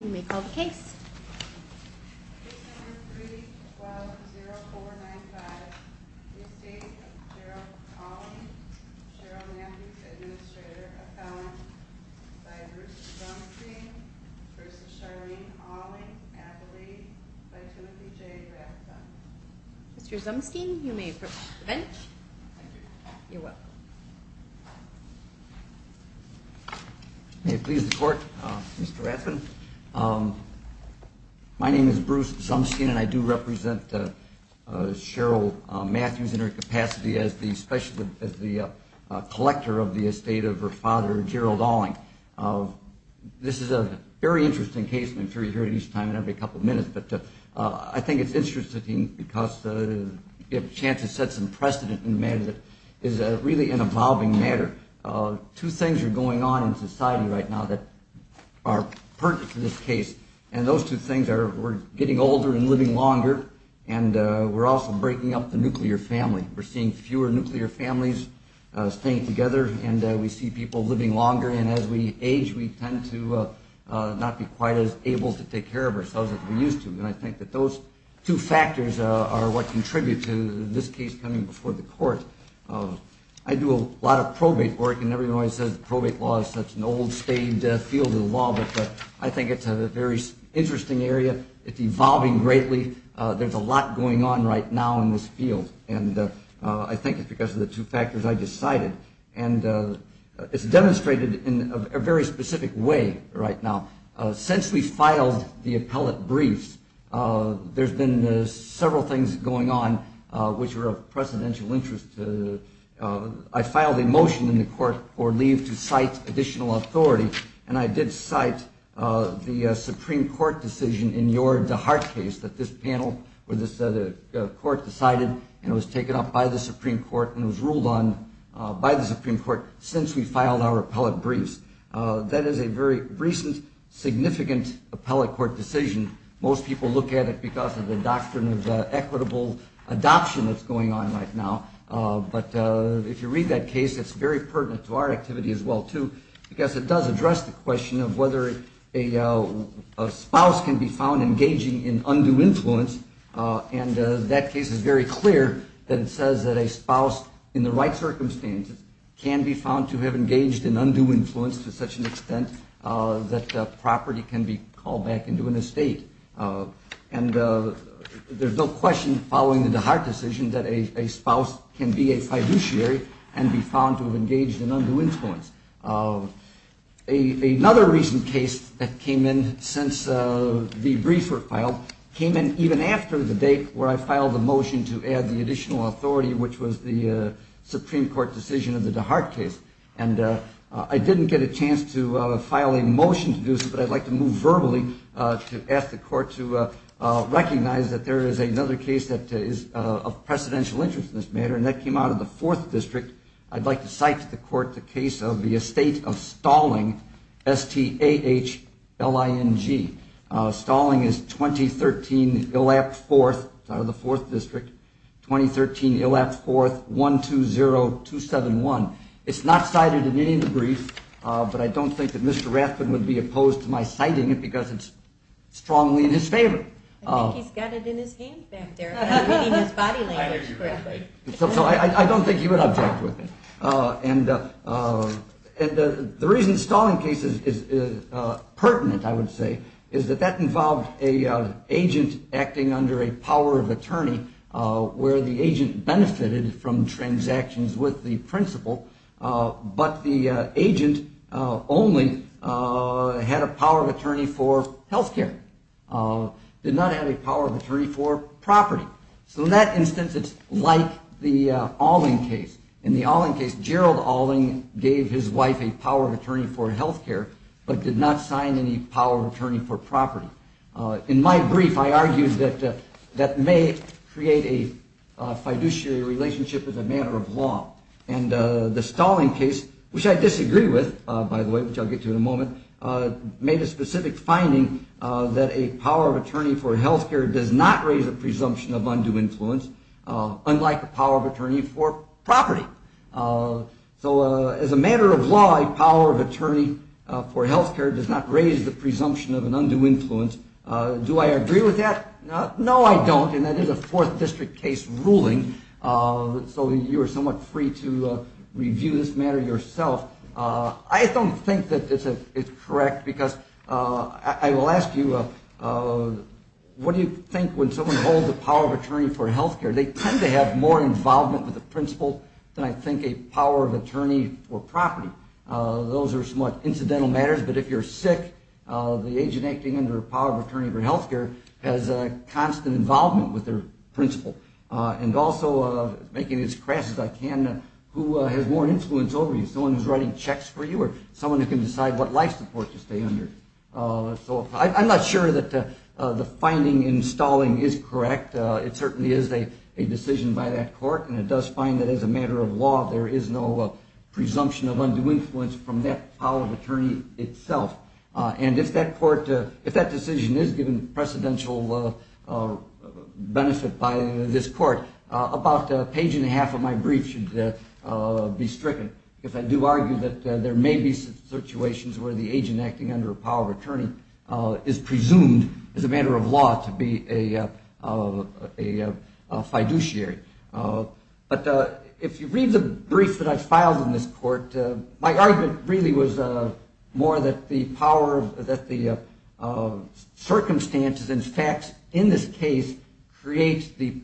You may call the case. Mr. Zumstein, you may approach the bench. You're welcome. May it please the court, Mr. Rathbun, my name is Bruce Zumstein and I do represent Cheryl Matthews in her capacity as the collector of the estate of her father, Gerald Alling. This is a very interesting case. I'm sure you hear it each time and every couple of minutes, but I think it's interesting because the chance to set some precedent in a matter that is really an evolving matter. Two things are going on in society right now that are pertinent to this case. And those two things are we're getting older and living longer. And we're also breaking up the nuclear family. We're seeing fewer nuclear families staying together. And we see people living longer. And as we age, we tend to not be quite as able to take care of ourselves as we used to. And I think that those two factors are what contribute to this case coming before the court. I do a lot of probate work. And everyone always says probate law is such an old-stained field of law. But I think it's a very interesting area. It's evolving greatly. There's a lot going on right now in this field. And I think it's because of the two factors I just cited. And it's demonstrated in a very specific way right now. Since we filed the appellate briefs, there's been several things going on which are of precedential interest. I filed a motion in the court for leave to cite additional authority. And I did cite the Supreme Court decision in your DeHart case that this panel or this court decided and it was taken up by the Supreme Court and was ruled on by the Supreme Court since we filed our appellate briefs. That is a very recent, significant appellate court decision. Most people look at it because of the doctrine of equitable adoption that's going on right now. But if you read that case, it's very pertinent to our activity as well too because it does address the question of whether a spouse can be found engaging in undue influence. And that case is very clear that it says that a spouse, in the right circumstances, can be found to have engaged in undue influence to such an extent that property can be called back into an estate. And there's no question following the DeHart decision that a spouse can be a fiduciary and be found to have engaged in undue influence. Another recent case that came in since the briefs were filed came in even after the date where I filed a motion to add the additional authority, which was the Supreme Court decision of the DeHart case. And I didn't get a chance to file a motion to do so, but I'd like to move verbally to ask the court to recognize that there is another case that is of precedential interest in this matter, and that came out of the 4th District. I'd like to cite to the court the case of the estate of Stalling, S-T-A-H-L-I-N-G. Stalling is 2013 Illap 4th out of the 4th District, 2013 Illap 4th, 120271. It's not cited in any of the briefs, but I don't think that Mr. Rathbun would be opposed to my citing it because it's strongly in his favor. I think he's got it in his hand, ma'am, there, reading his body language. I don't think he would object with it. And the reason the Stalling case is pertinent, I would say, is that that involved an agent acting under a power of attorney where the agent benefited from transactions with the principal, but the agent only had a power of attorney for health care, did not have a power of attorney for property. So in that instance, it's like the Alling case. In the Alling case, Gerald Alling gave his wife a power of attorney for health care, but did not sign any power of attorney for property. In my brief, I argued that that may create a fiduciary relationship with a matter of law, and the Stalling case, which I disagree with, by the way, which I'll get to in a moment, made a specific finding that a power of attorney for health care does not raise a presumption of undue influence, unlike a power of attorney for property. So as a matter of law, a power of attorney for health care does not raise the presumption of an undue influence. Do I agree with that? No, I don't, and that is a Fourth District case ruling. So you are somewhat free to review this matter yourself. I don't think that it's correct, because I will ask you, what do you think when someone holds a power of attorney for health care? They tend to have more involvement with the principal than, I think, a power of attorney for property. Those are somewhat incidental matters, but if you're sick, the agent acting under a power of attorney for health care has constant involvement with their principal. And also, making as crass as I can, who has more influence over you? Someone who's writing checks for you, or someone who can decide what life support to stay under? I'm not sure that the finding in Stalling is correct. It certainly is a decision by that court, and it does find that, as a matter of law, there is no presumption of undue influence from that power of attorney itself. And if that court, if that decision is given precedential benefit by this court, about a page and a half of my brief should be stricken, if I do argue that there may be situations where the agent acting under a power of attorney is presumed, as a matter of law, to be a fiduciary. But if you read the brief that I filed in this court, my argument really was more that the circumstances and facts in this case create the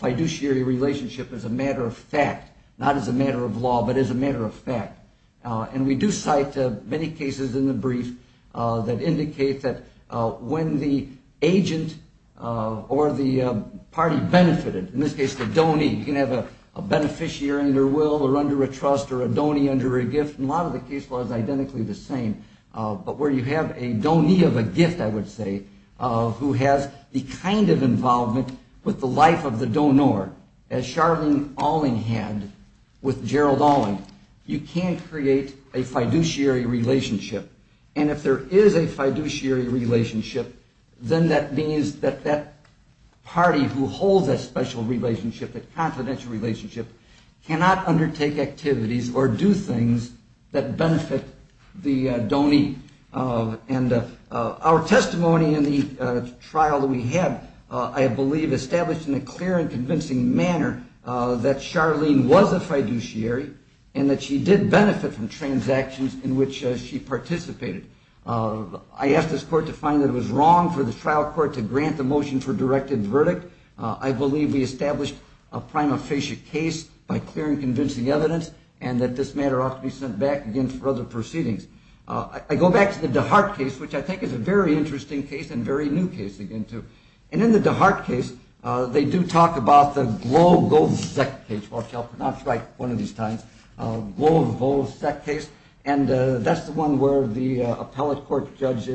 fiduciary relationship as a matter of fact, not as a matter of law, but as a matter of fact. And we do cite many cases in the brief that indicate that when the agent or the party benefited, in this case the donee, you can have a beneficiary under will or under a trust or a donee under a gift, and a lot of the case law is identically the same. But where you have a donee of a gift, I would say, who has the kind of involvement with the life of the donor, as Charlene Alling had with Gerald Alling, you can create a fiduciary relationship. And if there is a fiduciary relationship, then that means that that party who holds that special relationship, that confidential relationship, cannot undertake activities or do things that benefit the donee. And our testimony in the trial that we had, I believe, established in a clear and convincing manner that Charlene was a fiduciary and that she did benefit from transactions in which she participated. I asked this court to find that it was wrong for the trial court to grant the motion for directed verdict. I believe we established a prima facie case by clear and convincing evidence and that this matter ought to be sent back again for other proceedings. I go back to the DeHart case, which I think is a very interesting case and a very new case again, too. And in the DeHart case, they do talk about the Glo-Vo-Sek case, which I'll pronounce right one of these times, Glo-Vo-Sek case, and that's the one where the appellate court judge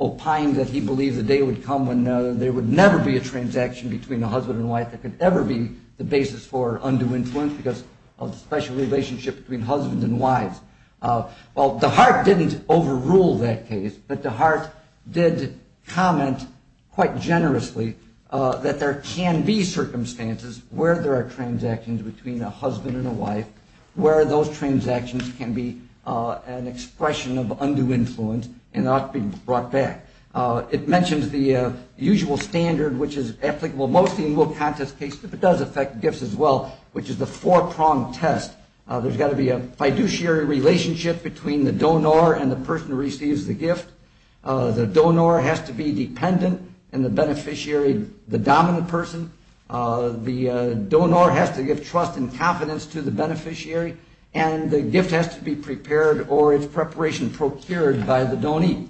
opined that he believed the day would come when there would never be a transaction between a husband and wife that could ever be the basis for undue influence because of the special relationship between husband and wives. Well, DeHart didn't overrule that case, but DeHart did comment quite generously that there can be circumstances where there are transactions between a husband and a wife, where those transactions can be an expression of undue influence and ought to be brought back. It mentions the usual standard, which is applicable mostly in will contest cases, but it does affect gifts as well, which is the four-pronged test. There's got to be a fiduciary relationship between the donor and the person who receives the gift. The donor has to be dependent and the beneficiary the dominant person. The donor has to give trust and confidence to the beneficiary, and the gift has to be prepared or its preparation procured by the donee.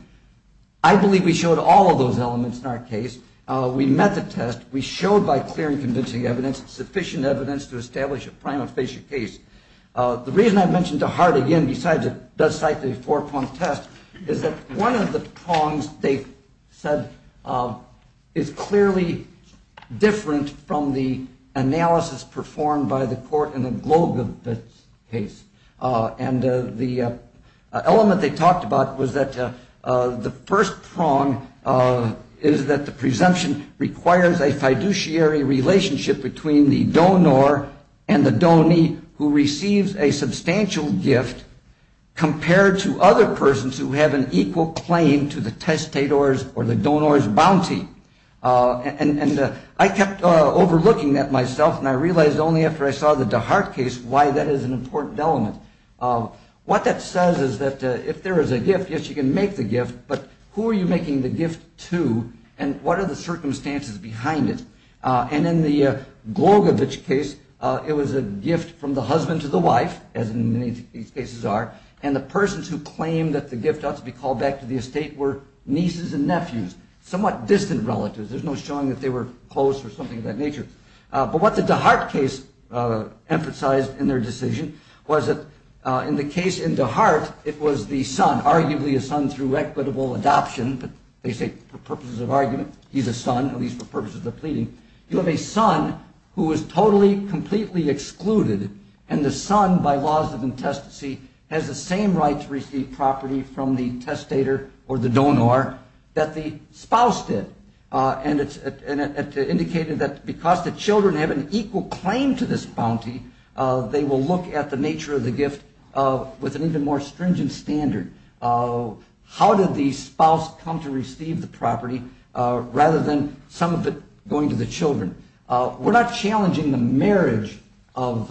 I believe we showed all of those elements in our case. We met the test. We showed by clear and convincing evidence sufficient evidence to establish a prima facie case. The reason I mentioned DeHart again, besides it does cite the four-pronged test, is that one of the prongs they said is clearly different from the analysis performed by the court in the Glogovitz case. And the element they talked about was that the first prong is that the presumption requires a fiduciary relationship between the donor and the donee who receives a substantial gift compared to other persons who have an equal claim to the testator's or the donor's bounty. And I kept overlooking that myself, and I realized only after I saw the DeHart case why that is an important element. What that says is that if there is a gift, yes, you can make the gift, but who are you making the gift to and what are the circumstances behind it? And in the Glogovitz case, it was a gift from the husband to the wife, as in many cases are, and the persons who claim that the gift ought to be called back to the estate were nieces and nephews, somewhat distant relatives. There's no showing that they were close or something of that nature. But what the DeHart case emphasized in their decision was that in the case in DeHart, it was the son, arguably a son through equitable adoption. They say for purposes of argument, he's a son, at least for purposes of pleading. You have a son who is totally, completely excluded, and the son, by laws of intestacy, has the same right to receive property from the testator or the donor that the spouse did. And it indicated that because the children have an equal claim to this bounty, they will look at the nature of the gift with an even more stringent standard. How did the spouse come to receive the property rather than some of it going to the children? We're not challenging the marriage of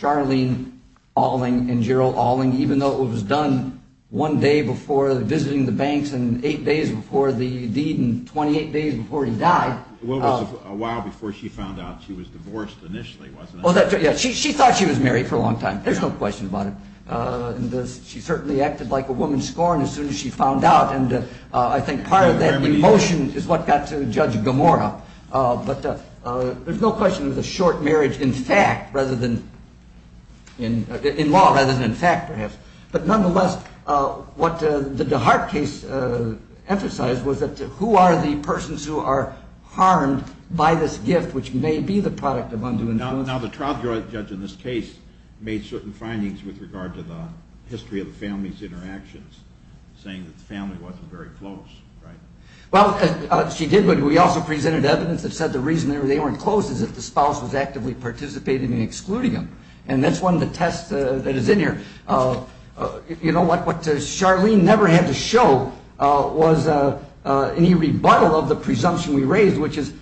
Charlene Alling and Gerald Alling, even though it was done one day before visiting the banks and eight days before the deed and 28 days before he died. Well, it was a while before she found out she was divorced initially, wasn't it? She thought she was married for a long time. There's no question about it. She certainly acted like a woman scorned as soon as she found out. And I think part of that emotion is what got to Judge Gomorrah. But there's no question it was a short marriage in fact rather than in law, rather than in fact, perhaps. But nonetheless, what the DeHart case emphasized was that who are the persons who are harmed by this gift, which may be the product of undue influence? Now, the trial judge in this case made certain findings with regard to the history of the family's interactions, saying that the family wasn't very close, right? Well, she did, but we also presented evidence that said the reason they weren't close is that the spouse was actively participating in excluding them. And that's one of the tests that is in here. You know what? What Charlene never had to show was any rebuttal of the presumption we raised, which is did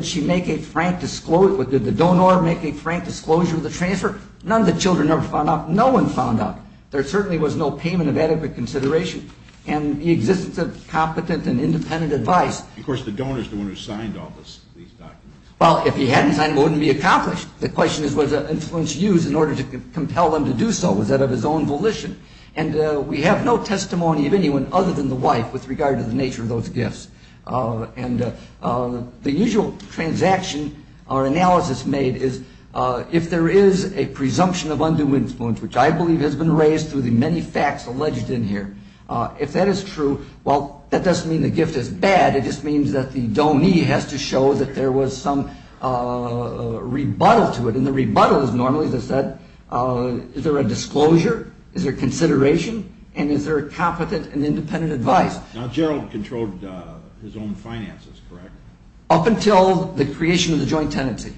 the donor make a frank disclosure of the transfer? None of the children ever found out. No one found out. There certainly was no payment of adequate consideration. And the existence of competent and independent advice. Of course, the donor is the one who signed all these documents. Well, if he hadn't signed, it wouldn't be accomplished. The question is was the influence used in order to compel them to do so. Was that of his own volition? And we have no testimony of anyone other than the wife with regard to the nature of those gifts. And the usual transaction or analysis made is if there is a presumption of undue influence, which I believe has been raised through the many facts alleged in here, if that is true, well, that doesn't mean the gift is bad. It just means that the donee has to show that there was some rebuttal to it. And the rebuttal is normally to say is there a disclosure? Is there consideration? And is there competent and independent advice? Now, Gerald controlled his own finances, correct? Up until the creation of the joint tenancy.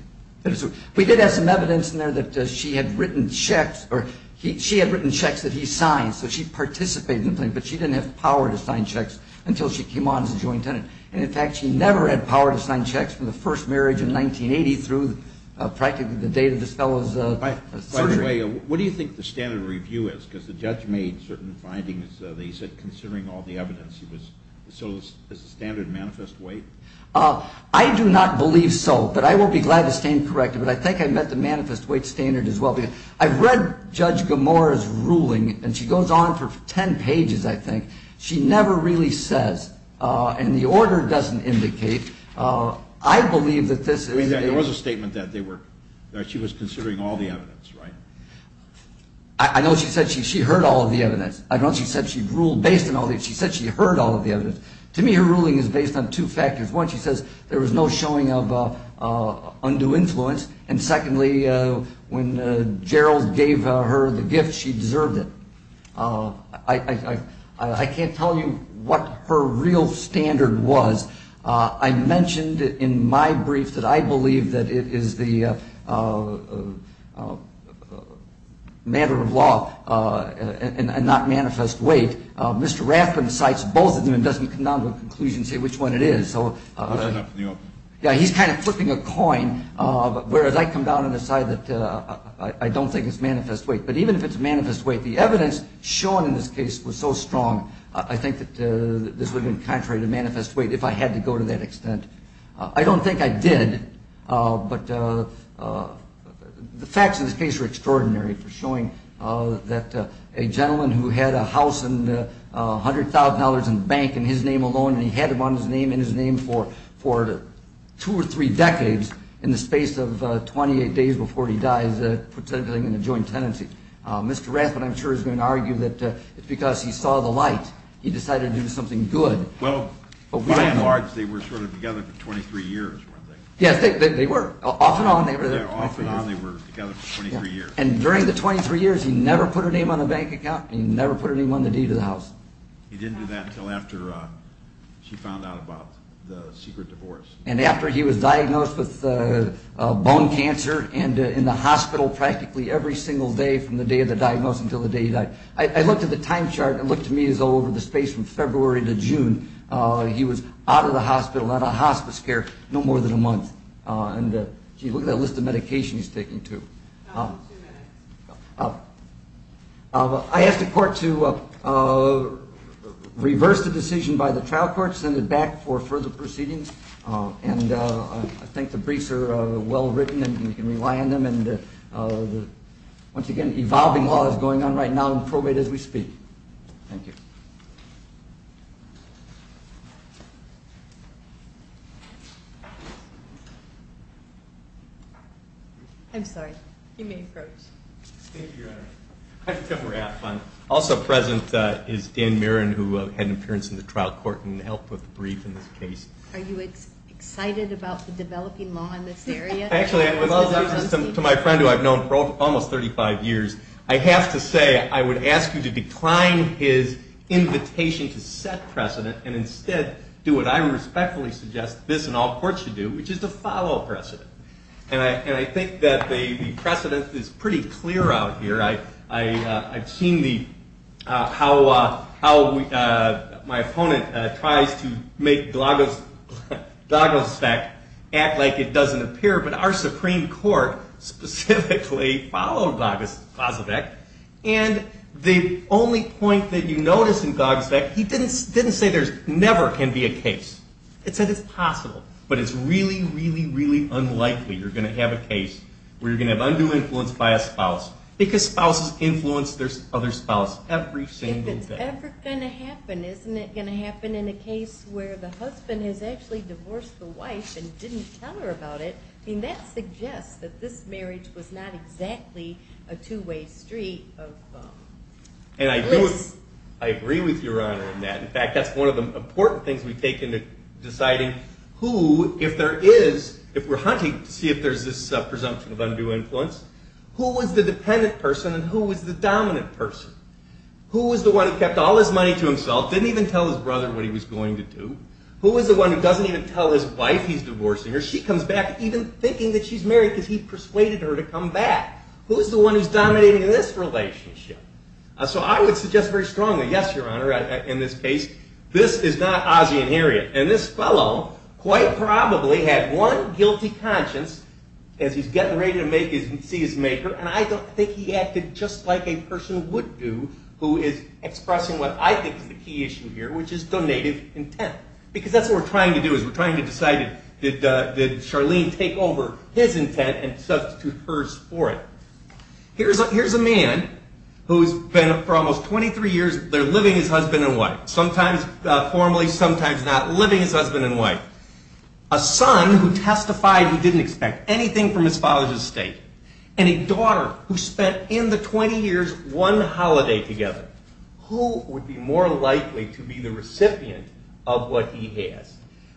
We did have some evidence in there that she had written checks or she had written checks that he signed. So she participated in the thing, but she didn't have power to sign checks until she came on as a joint tenant. And, in fact, she never had power to sign checks from the first marriage in 1980 through practically the date of this fellow's surgery. By the way, what do you think the standard review is? Because the judge made certain findings. They said considering all the evidence, so is the standard manifest weight? I do not believe so, but I will be glad to stand corrected. But I think I met the manifest weight standard as well. I read Judge Gamora's ruling, and she goes on for 10 pages, I think. She never really says. And the order doesn't indicate. I believe that this is. There was a statement that she was considering all the evidence, right? I know she said she heard all of the evidence. I know she said she ruled based on all the evidence. She said she heard all of the evidence. To me, her ruling is based on two factors. One, she says there was no showing of undue influence. And, secondly, when Gerald gave her the gift, she deserved it. I can't tell you what her real standard was. I mentioned in my brief that I believe that it is the matter of law and not manifest weight. Mr. Rathbun cites both of them and doesn't come down to a conclusion and say which one it is. He's kind of flipping a coin, whereas I come down and decide that I don't think it's manifest weight. But even if it's manifest weight, the evidence shown in this case was so strong, I think that this would have been contrary to manifest weight if I had to go to that extent. I don't think I did, but the facts of this case are extraordinary for showing that a gentleman who had a house and $100,000 in the bank in his name alone, and he had it on his name and his name for two or three decades, in the space of 28 days before he dies, put something in a joint tenancy. Mr. Rathbun, I'm sure, is going to argue that because he saw the light, he decided to do something good. Well, by and large, they were together for 23 years, weren't they? Yes, they were. Off and on, they were together for 23 years. And during the 23 years, he never put her name on the bank account and he never put her name on the deed of the house. He didn't do that until after she found out about the secret divorce. And after he was diagnosed with bone cancer and in the hospital practically every single day from the day of the diagnosis until the day he died. I looked at the time chart and it looked to me as though over the space from February to June, he was out of the hospital, out of hospice care, no more than a month. And, gee, look at that list of medication he's taking, too. Two minutes. I ask the court to reverse the decision by the trial court, send it back for further proceedings. And I think the briefs are well written and we can rely on them. And, once again, evolving law is going on right now and probate as we speak. Thank you. I'm sorry. You may approach. Thank you, Your Honor. Also present is Dan Mirren who had an appearance in the trial court and helped with the brief in this case. Are you excited about the developing law in this area? Actually, to my friend who I've known for almost 35 years, I have to say I would ask you to decline his invitation to set precedent and instead do what I respectfully suggest this and all courts should do, which is to follow precedent. And I think that the precedent is pretty clear out here. I've seen how my opponent tries to make Glagelstek act like it doesn't appear, but our Supreme Court specifically followed Glagelstek. And the only point that you notice in Glagelstek, he didn't say there never can be a case. He said it's possible, but it's really, really, really unlikely you're going to have a case where you're going to have undue influence by a spouse because spouses influence their other spouse every single day. If it's ever going to happen, isn't it going to happen in a case where the husband has actually divorced the wife and didn't tell her about it? I mean, that suggests that this marriage was not exactly a two-way street of bliss. And I agree with Your Honor in that. In fact, that's one of the important things we take into deciding who, if there is, if we're hunting to see if there's this presumption of undue influence, who was the dependent person and who was the dominant person? Who was the one who kept all his money to himself, didn't even tell his brother what he was going to do? Who was the one who doesn't even tell his wife he's divorcing her? She comes back even thinking that she's married because he persuaded her to come back. Who's the one who's dominating this relationship? So I would suggest very strongly, yes, Your Honor, in this case, this is not Ozzie and Harriet. And this fellow quite probably had one guilty conscience as he's getting ready to see his maker, and I don't think he acted just like a person would do who is expressing what I think is the key issue here, which is donative intent. Because that's what we're trying to do is we're trying to decide, did Charlene take over his intent and substitute hers for it? Here's a man who's been for almost 23 years, they're living as husband and wife, sometimes formally, sometimes not, living as husband and wife. A son who testified he didn't expect anything from his father's estate. And a daughter who spent in the 20 years one holiday together. Who would be more likely to be the recipient of what he has?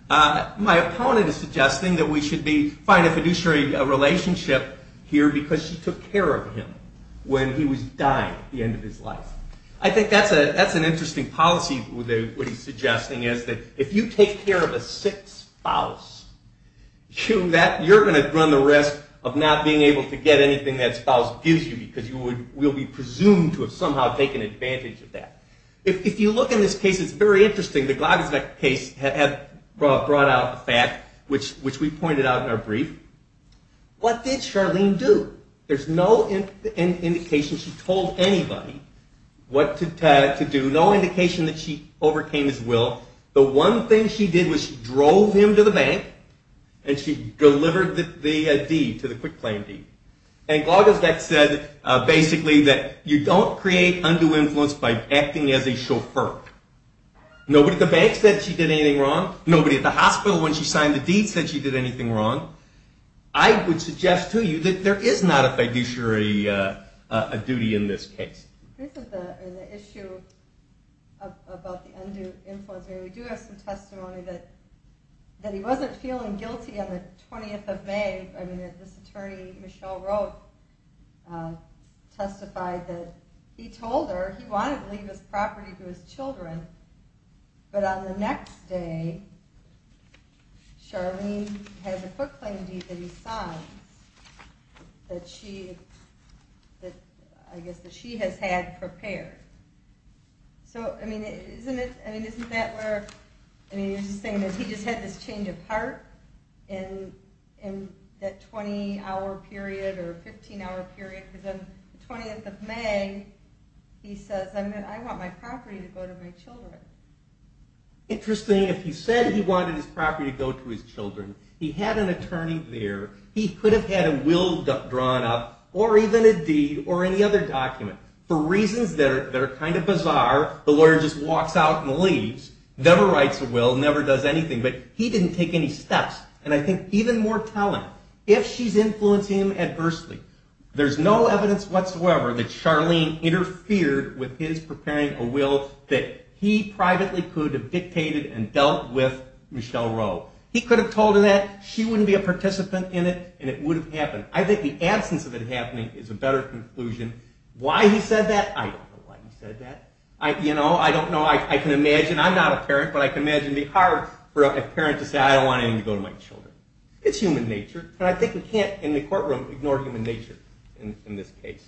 My opponent is suggesting that we should find a fiduciary relationship here because she took care of him when he was dying at the end of his life. I think that's an interesting policy what he's suggesting is that if you take care of a sick spouse, you're going to run the risk of not being able to get anything that spouse gives you because you will be presumed to have somehow taken advantage of that. If you look in this case, it's very interesting. The Glogozbek case had brought out a fact, which we pointed out in our brief. What did Charlene do? There's no indication she told anybody what to do. No indication that she overcame his will. The one thing she did was she drove him to the bank and she delivered the deed to the quick claim deed. And Glogozbek said basically that you don't create undue influence by acting as a chauffeur. Nobody at the bank said she did anything wrong. Nobody at the hospital when she signed the deed said she did anything wrong. I would suggest to you that there is not a fiduciary duty in this case. This is the issue about the undue influence. We do have some testimony that he wasn't feeling guilty on the 20th of May. This attorney, Michele Roth, testified that he told her he wanted to leave his property to his children. But on the next day, Charlene has a quick claim deed that he signs that she has had prepared. So isn't that where he just had this change of heart in that 20-hour period or 15-hour period? Because on the 20th of May, he says, I want my property to go to my children. Interesting. If he said he wanted his property to go to his children, he had an attorney there. He could have had a will drawn up or even a deed or any other document. For reasons that are kind of bizarre, the lawyer just walks out and leaves, never writes a will, never does anything. But he didn't take any steps. And I think even more telling, if she's influencing him adversely, there's no evidence whatsoever that Charlene interfered with his preparing a will that he privately could have dictated and dealt with Michele Roth. He could have told her that. She wouldn't be a participant in it, and it would have happened. I think the absence of it happening is a better conclusion. Why he said that, I don't know why he said that. I don't know. I can imagine. I'm not a parent, but I can imagine the horror for a parent to say, I don't want anything to go to my children. It's human nature. And I think we can't, in the courtroom, ignore human nature in this case.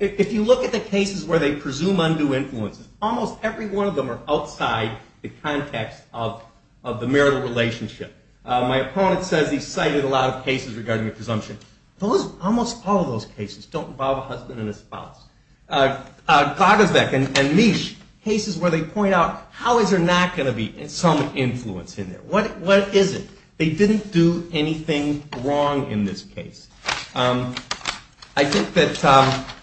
If you look at the cases where they presume undue influence, almost every one of them are outside the context of the marital relationship. My opponent says he's cited a lot of cases regarding the presumption. Almost all of those cases don't involve a husband and a spouse. Gagesbeck and Meech, cases where they point out, how is there not going to be some influence in there? What is it? They didn't do anything wrong in this case. I think that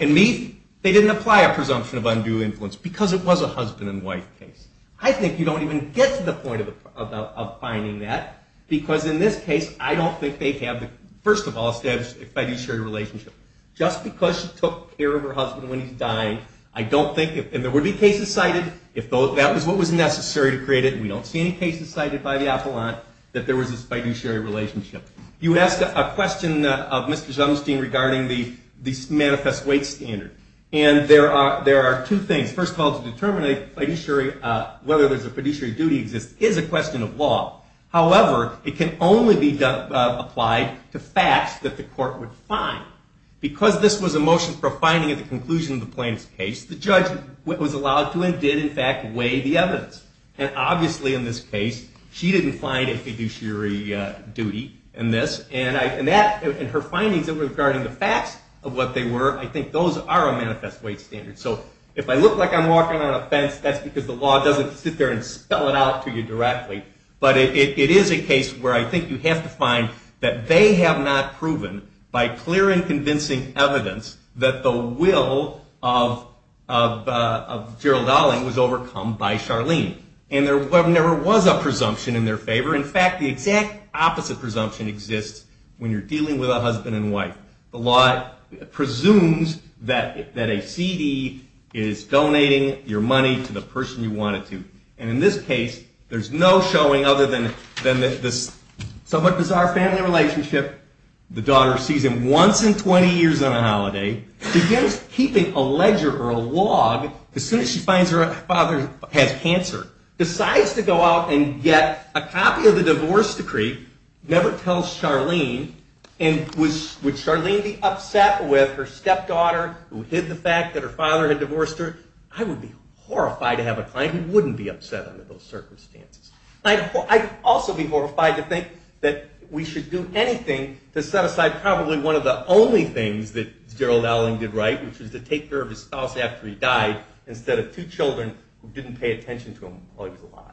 in Meech, they didn't apply a presumption of undue influence because it was a husband and wife case. I think you don't even get to the point of finding that. Because in this case, I don't think they have, first of all, established a fiduciary relationship. Just because she took care of her husband when he's dying, I don't think, and there would be cases cited, if that was what was necessary to create it, and we don't see any cases cited by the appellant, that there was a fiduciary relationship. You asked a question of Mr. Zumstein regarding the manifest weight standard. And there are two things. First of all, to determine whether there's a fiduciary duty exists is a question of law. However, it can only be applied to facts that the court would find. Because this was a motion for a finding at the conclusion of the plaintiff's case, the judge was allowed to and did, in fact, weigh the evidence. And obviously, in this case, she didn't find a fiduciary duty in this. And her findings regarding the facts of what they were, I think those are a manifest weight standard. So if I look like I'm walking on a fence, that's because the law doesn't sit there and spell it out to you directly. But it is a case where I think you have to find that they have not proven, by clear and convincing evidence, that the will of Gerald Dowling was overcome by Charlene. And there never was a presumption in their favor. In fact, the exact opposite presumption exists when you're dealing with a husband and wife. The law presumes that a CD is donating your money to the person you want it to. And in this case, there's no showing other than this somewhat bizarre family relationship. The daughter sees him once in 20 years on a holiday, begins keeping a ledger or a log, as soon as she finds her father has cancer, decides to go out and get a copy of the divorce decree, never tells Charlene, and would Charlene be upset with her stepdaughter who hid the fact that her father had divorced her? I would be horrified to have a client who wouldn't be upset under those circumstances. I'd also be horrified to think that we should do anything to set aside probably one of the only things that Gerald Dowling did right, which was to take care of his spouse after he died, instead of two children who didn't pay attention to him while he was alive.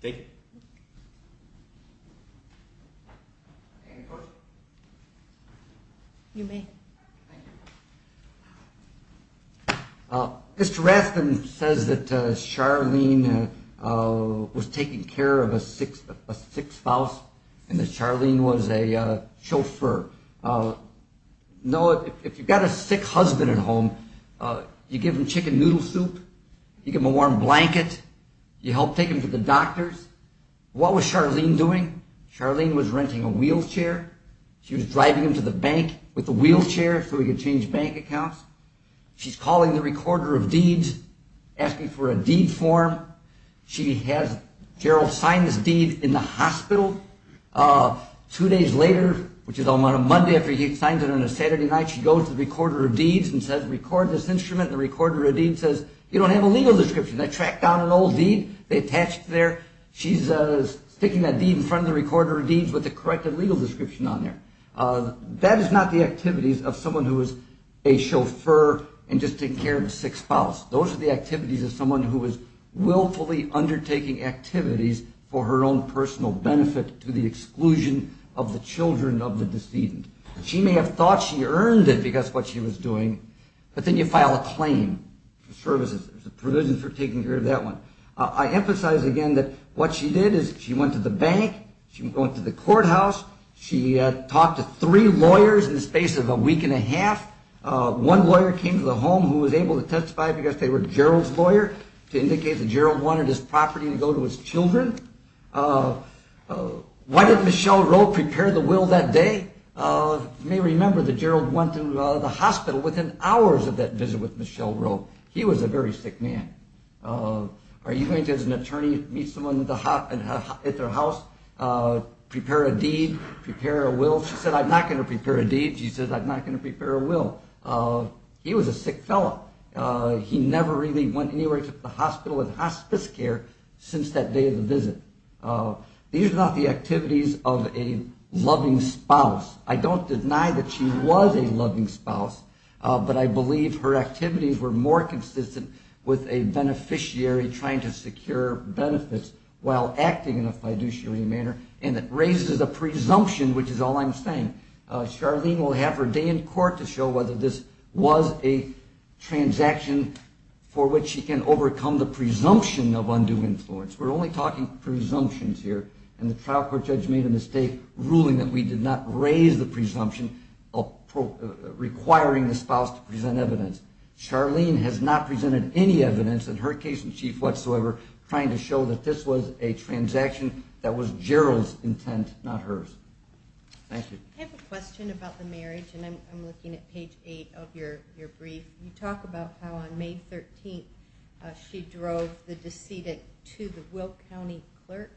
Thank you. Any questions? You may. Thank you. Mr. Rathbun says that Charlene was taking care of a sick spouse and that Charlene was a chauffeur. Noah, if you've got a sick husband at home, you give him chicken noodle soup, you give him a warm blanket, you help take him to the doctors? What was Charlene doing? Charlene was renting a wheelchair. She was driving him to the bank with a wheelchair so he could change bank accounts. She's calling the recorder of deeds, asking for a deed form. She has Gerald sign this deed in the hospital. Two days later, which is on a Monday after he signs it on a Saturday night, she goes to the recorder of deeds and says, record this instrument, and the recorder of deeds says, you don't have a legal description. They track down an old deed. They attach it there. She's sticking that deed in front of the recorder of deeds with the correct legal description on there. That is not the activities of someone who is a chauffeur and just taking care of a sick spouse. Those are the activities of someone who is willfully undertaking activities for her own personal benefit to the exclusion of the children of the decedent. She may have thought she earned it because of what she was doing, but then you file a claim for services. There's a provision for taking care of that one. I emphasize again that what she did is she went to the bank. She went to the courthouse. She talked to three lawyers in the space of a week and a half. One lawyer came to the home who was able to testify because they were Gerald's lawyer, to indicate that Gerald wanted his property to go to his children. Why did Michel Rowe prepare the will that day? You may remember that Gerald went to the hospital within hours of that visit with Michel Rowe. He was a very sick man. Are you going to, as an attorney, meet someone at their house, prepare a deed, prepare a will? She said, I'm not going to prepare a deed. She said, I'm not going to prepare a will. He was a sick fellow. He never really went anywhere to the hospital in hospice care since that day of the visit. These are not the activities of a loving spouse. I don't deny that she was a loving spouse. But I believe her activities were more consistent with a beneficiary trying to secure benefits while acting in a fiduciary manner. And it raises a presumption, which is all I'm saying. Charlene will have her day in court to show whether this was a transaction for which she can overcome the presumption of undue influence. We're only talking presumptions here. And the trial court judge made a mistake ruling that we did not raise the presumption requiring the spouse to present evidence. Charlene has not presented any evidence in her case in chief whatsoever trying to show that this was a transaction that was Gerald's intent, not hers. Thank you. I have a question about the marriage, and I'm looking at page 8 of your brief. You talk about how on May 13th she drove the decedent to the Wilk County clerk.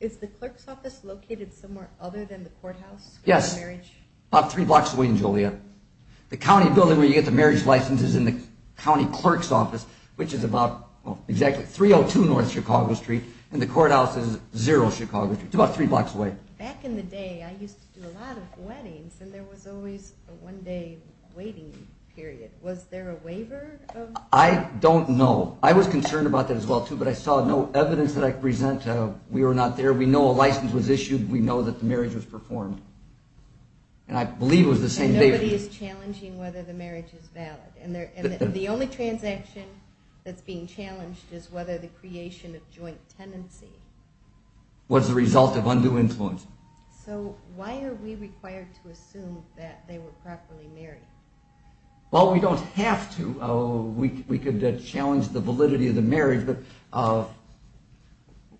Is the clerk's office located somewhere other than the courthouse? Yes, about three blocks away in Joliet. The county building where you get the marriage license is in the county clerk's office, which is about 302 North Chicago Street. And the courthouse is 0 Chicago Street. It's about three blocks away. Back in the day, I used to do a lot of weddings, and there was always a one-day waiting period. Was there a waiver? I don't know. I was concerned about that as well, too, but I saw no evidence that I could present. We were not there. We know a license was issued. We know that the marriage was performed. And I believe it was the same day. And nobody is challenging whether the marriage is valid. And the only transaction that's being challenged is whether the creation of joint tenancy was the result of undue influence. So why are we required to assume that they were properly married? Well, we don't have to. We could challenge the validity of the marriage, but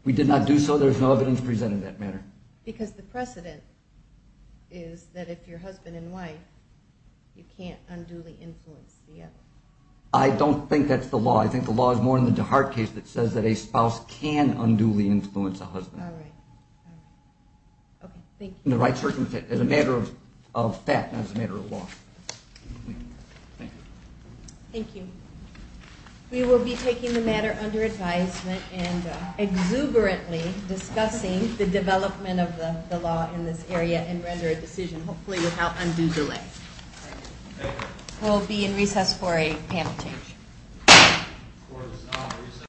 we did not do so. There's no evidence presented in that matter. Because the precedent is that if you're husband and wife, you can't unduly influence the other. I don't think that's the law. I think the law is more in the DeHart case that says that a spouse can unduly influence a husband. All right. All right. Okay. Thank you. In the right circumstance, as a matter of fact, not as a matter of law. Thank you. Thank you. We will be taking the matter under advisement and exuberantly discussing the development of the law in this area and render a decision, hopefully without undue delay. We'll be in recess for a panel change.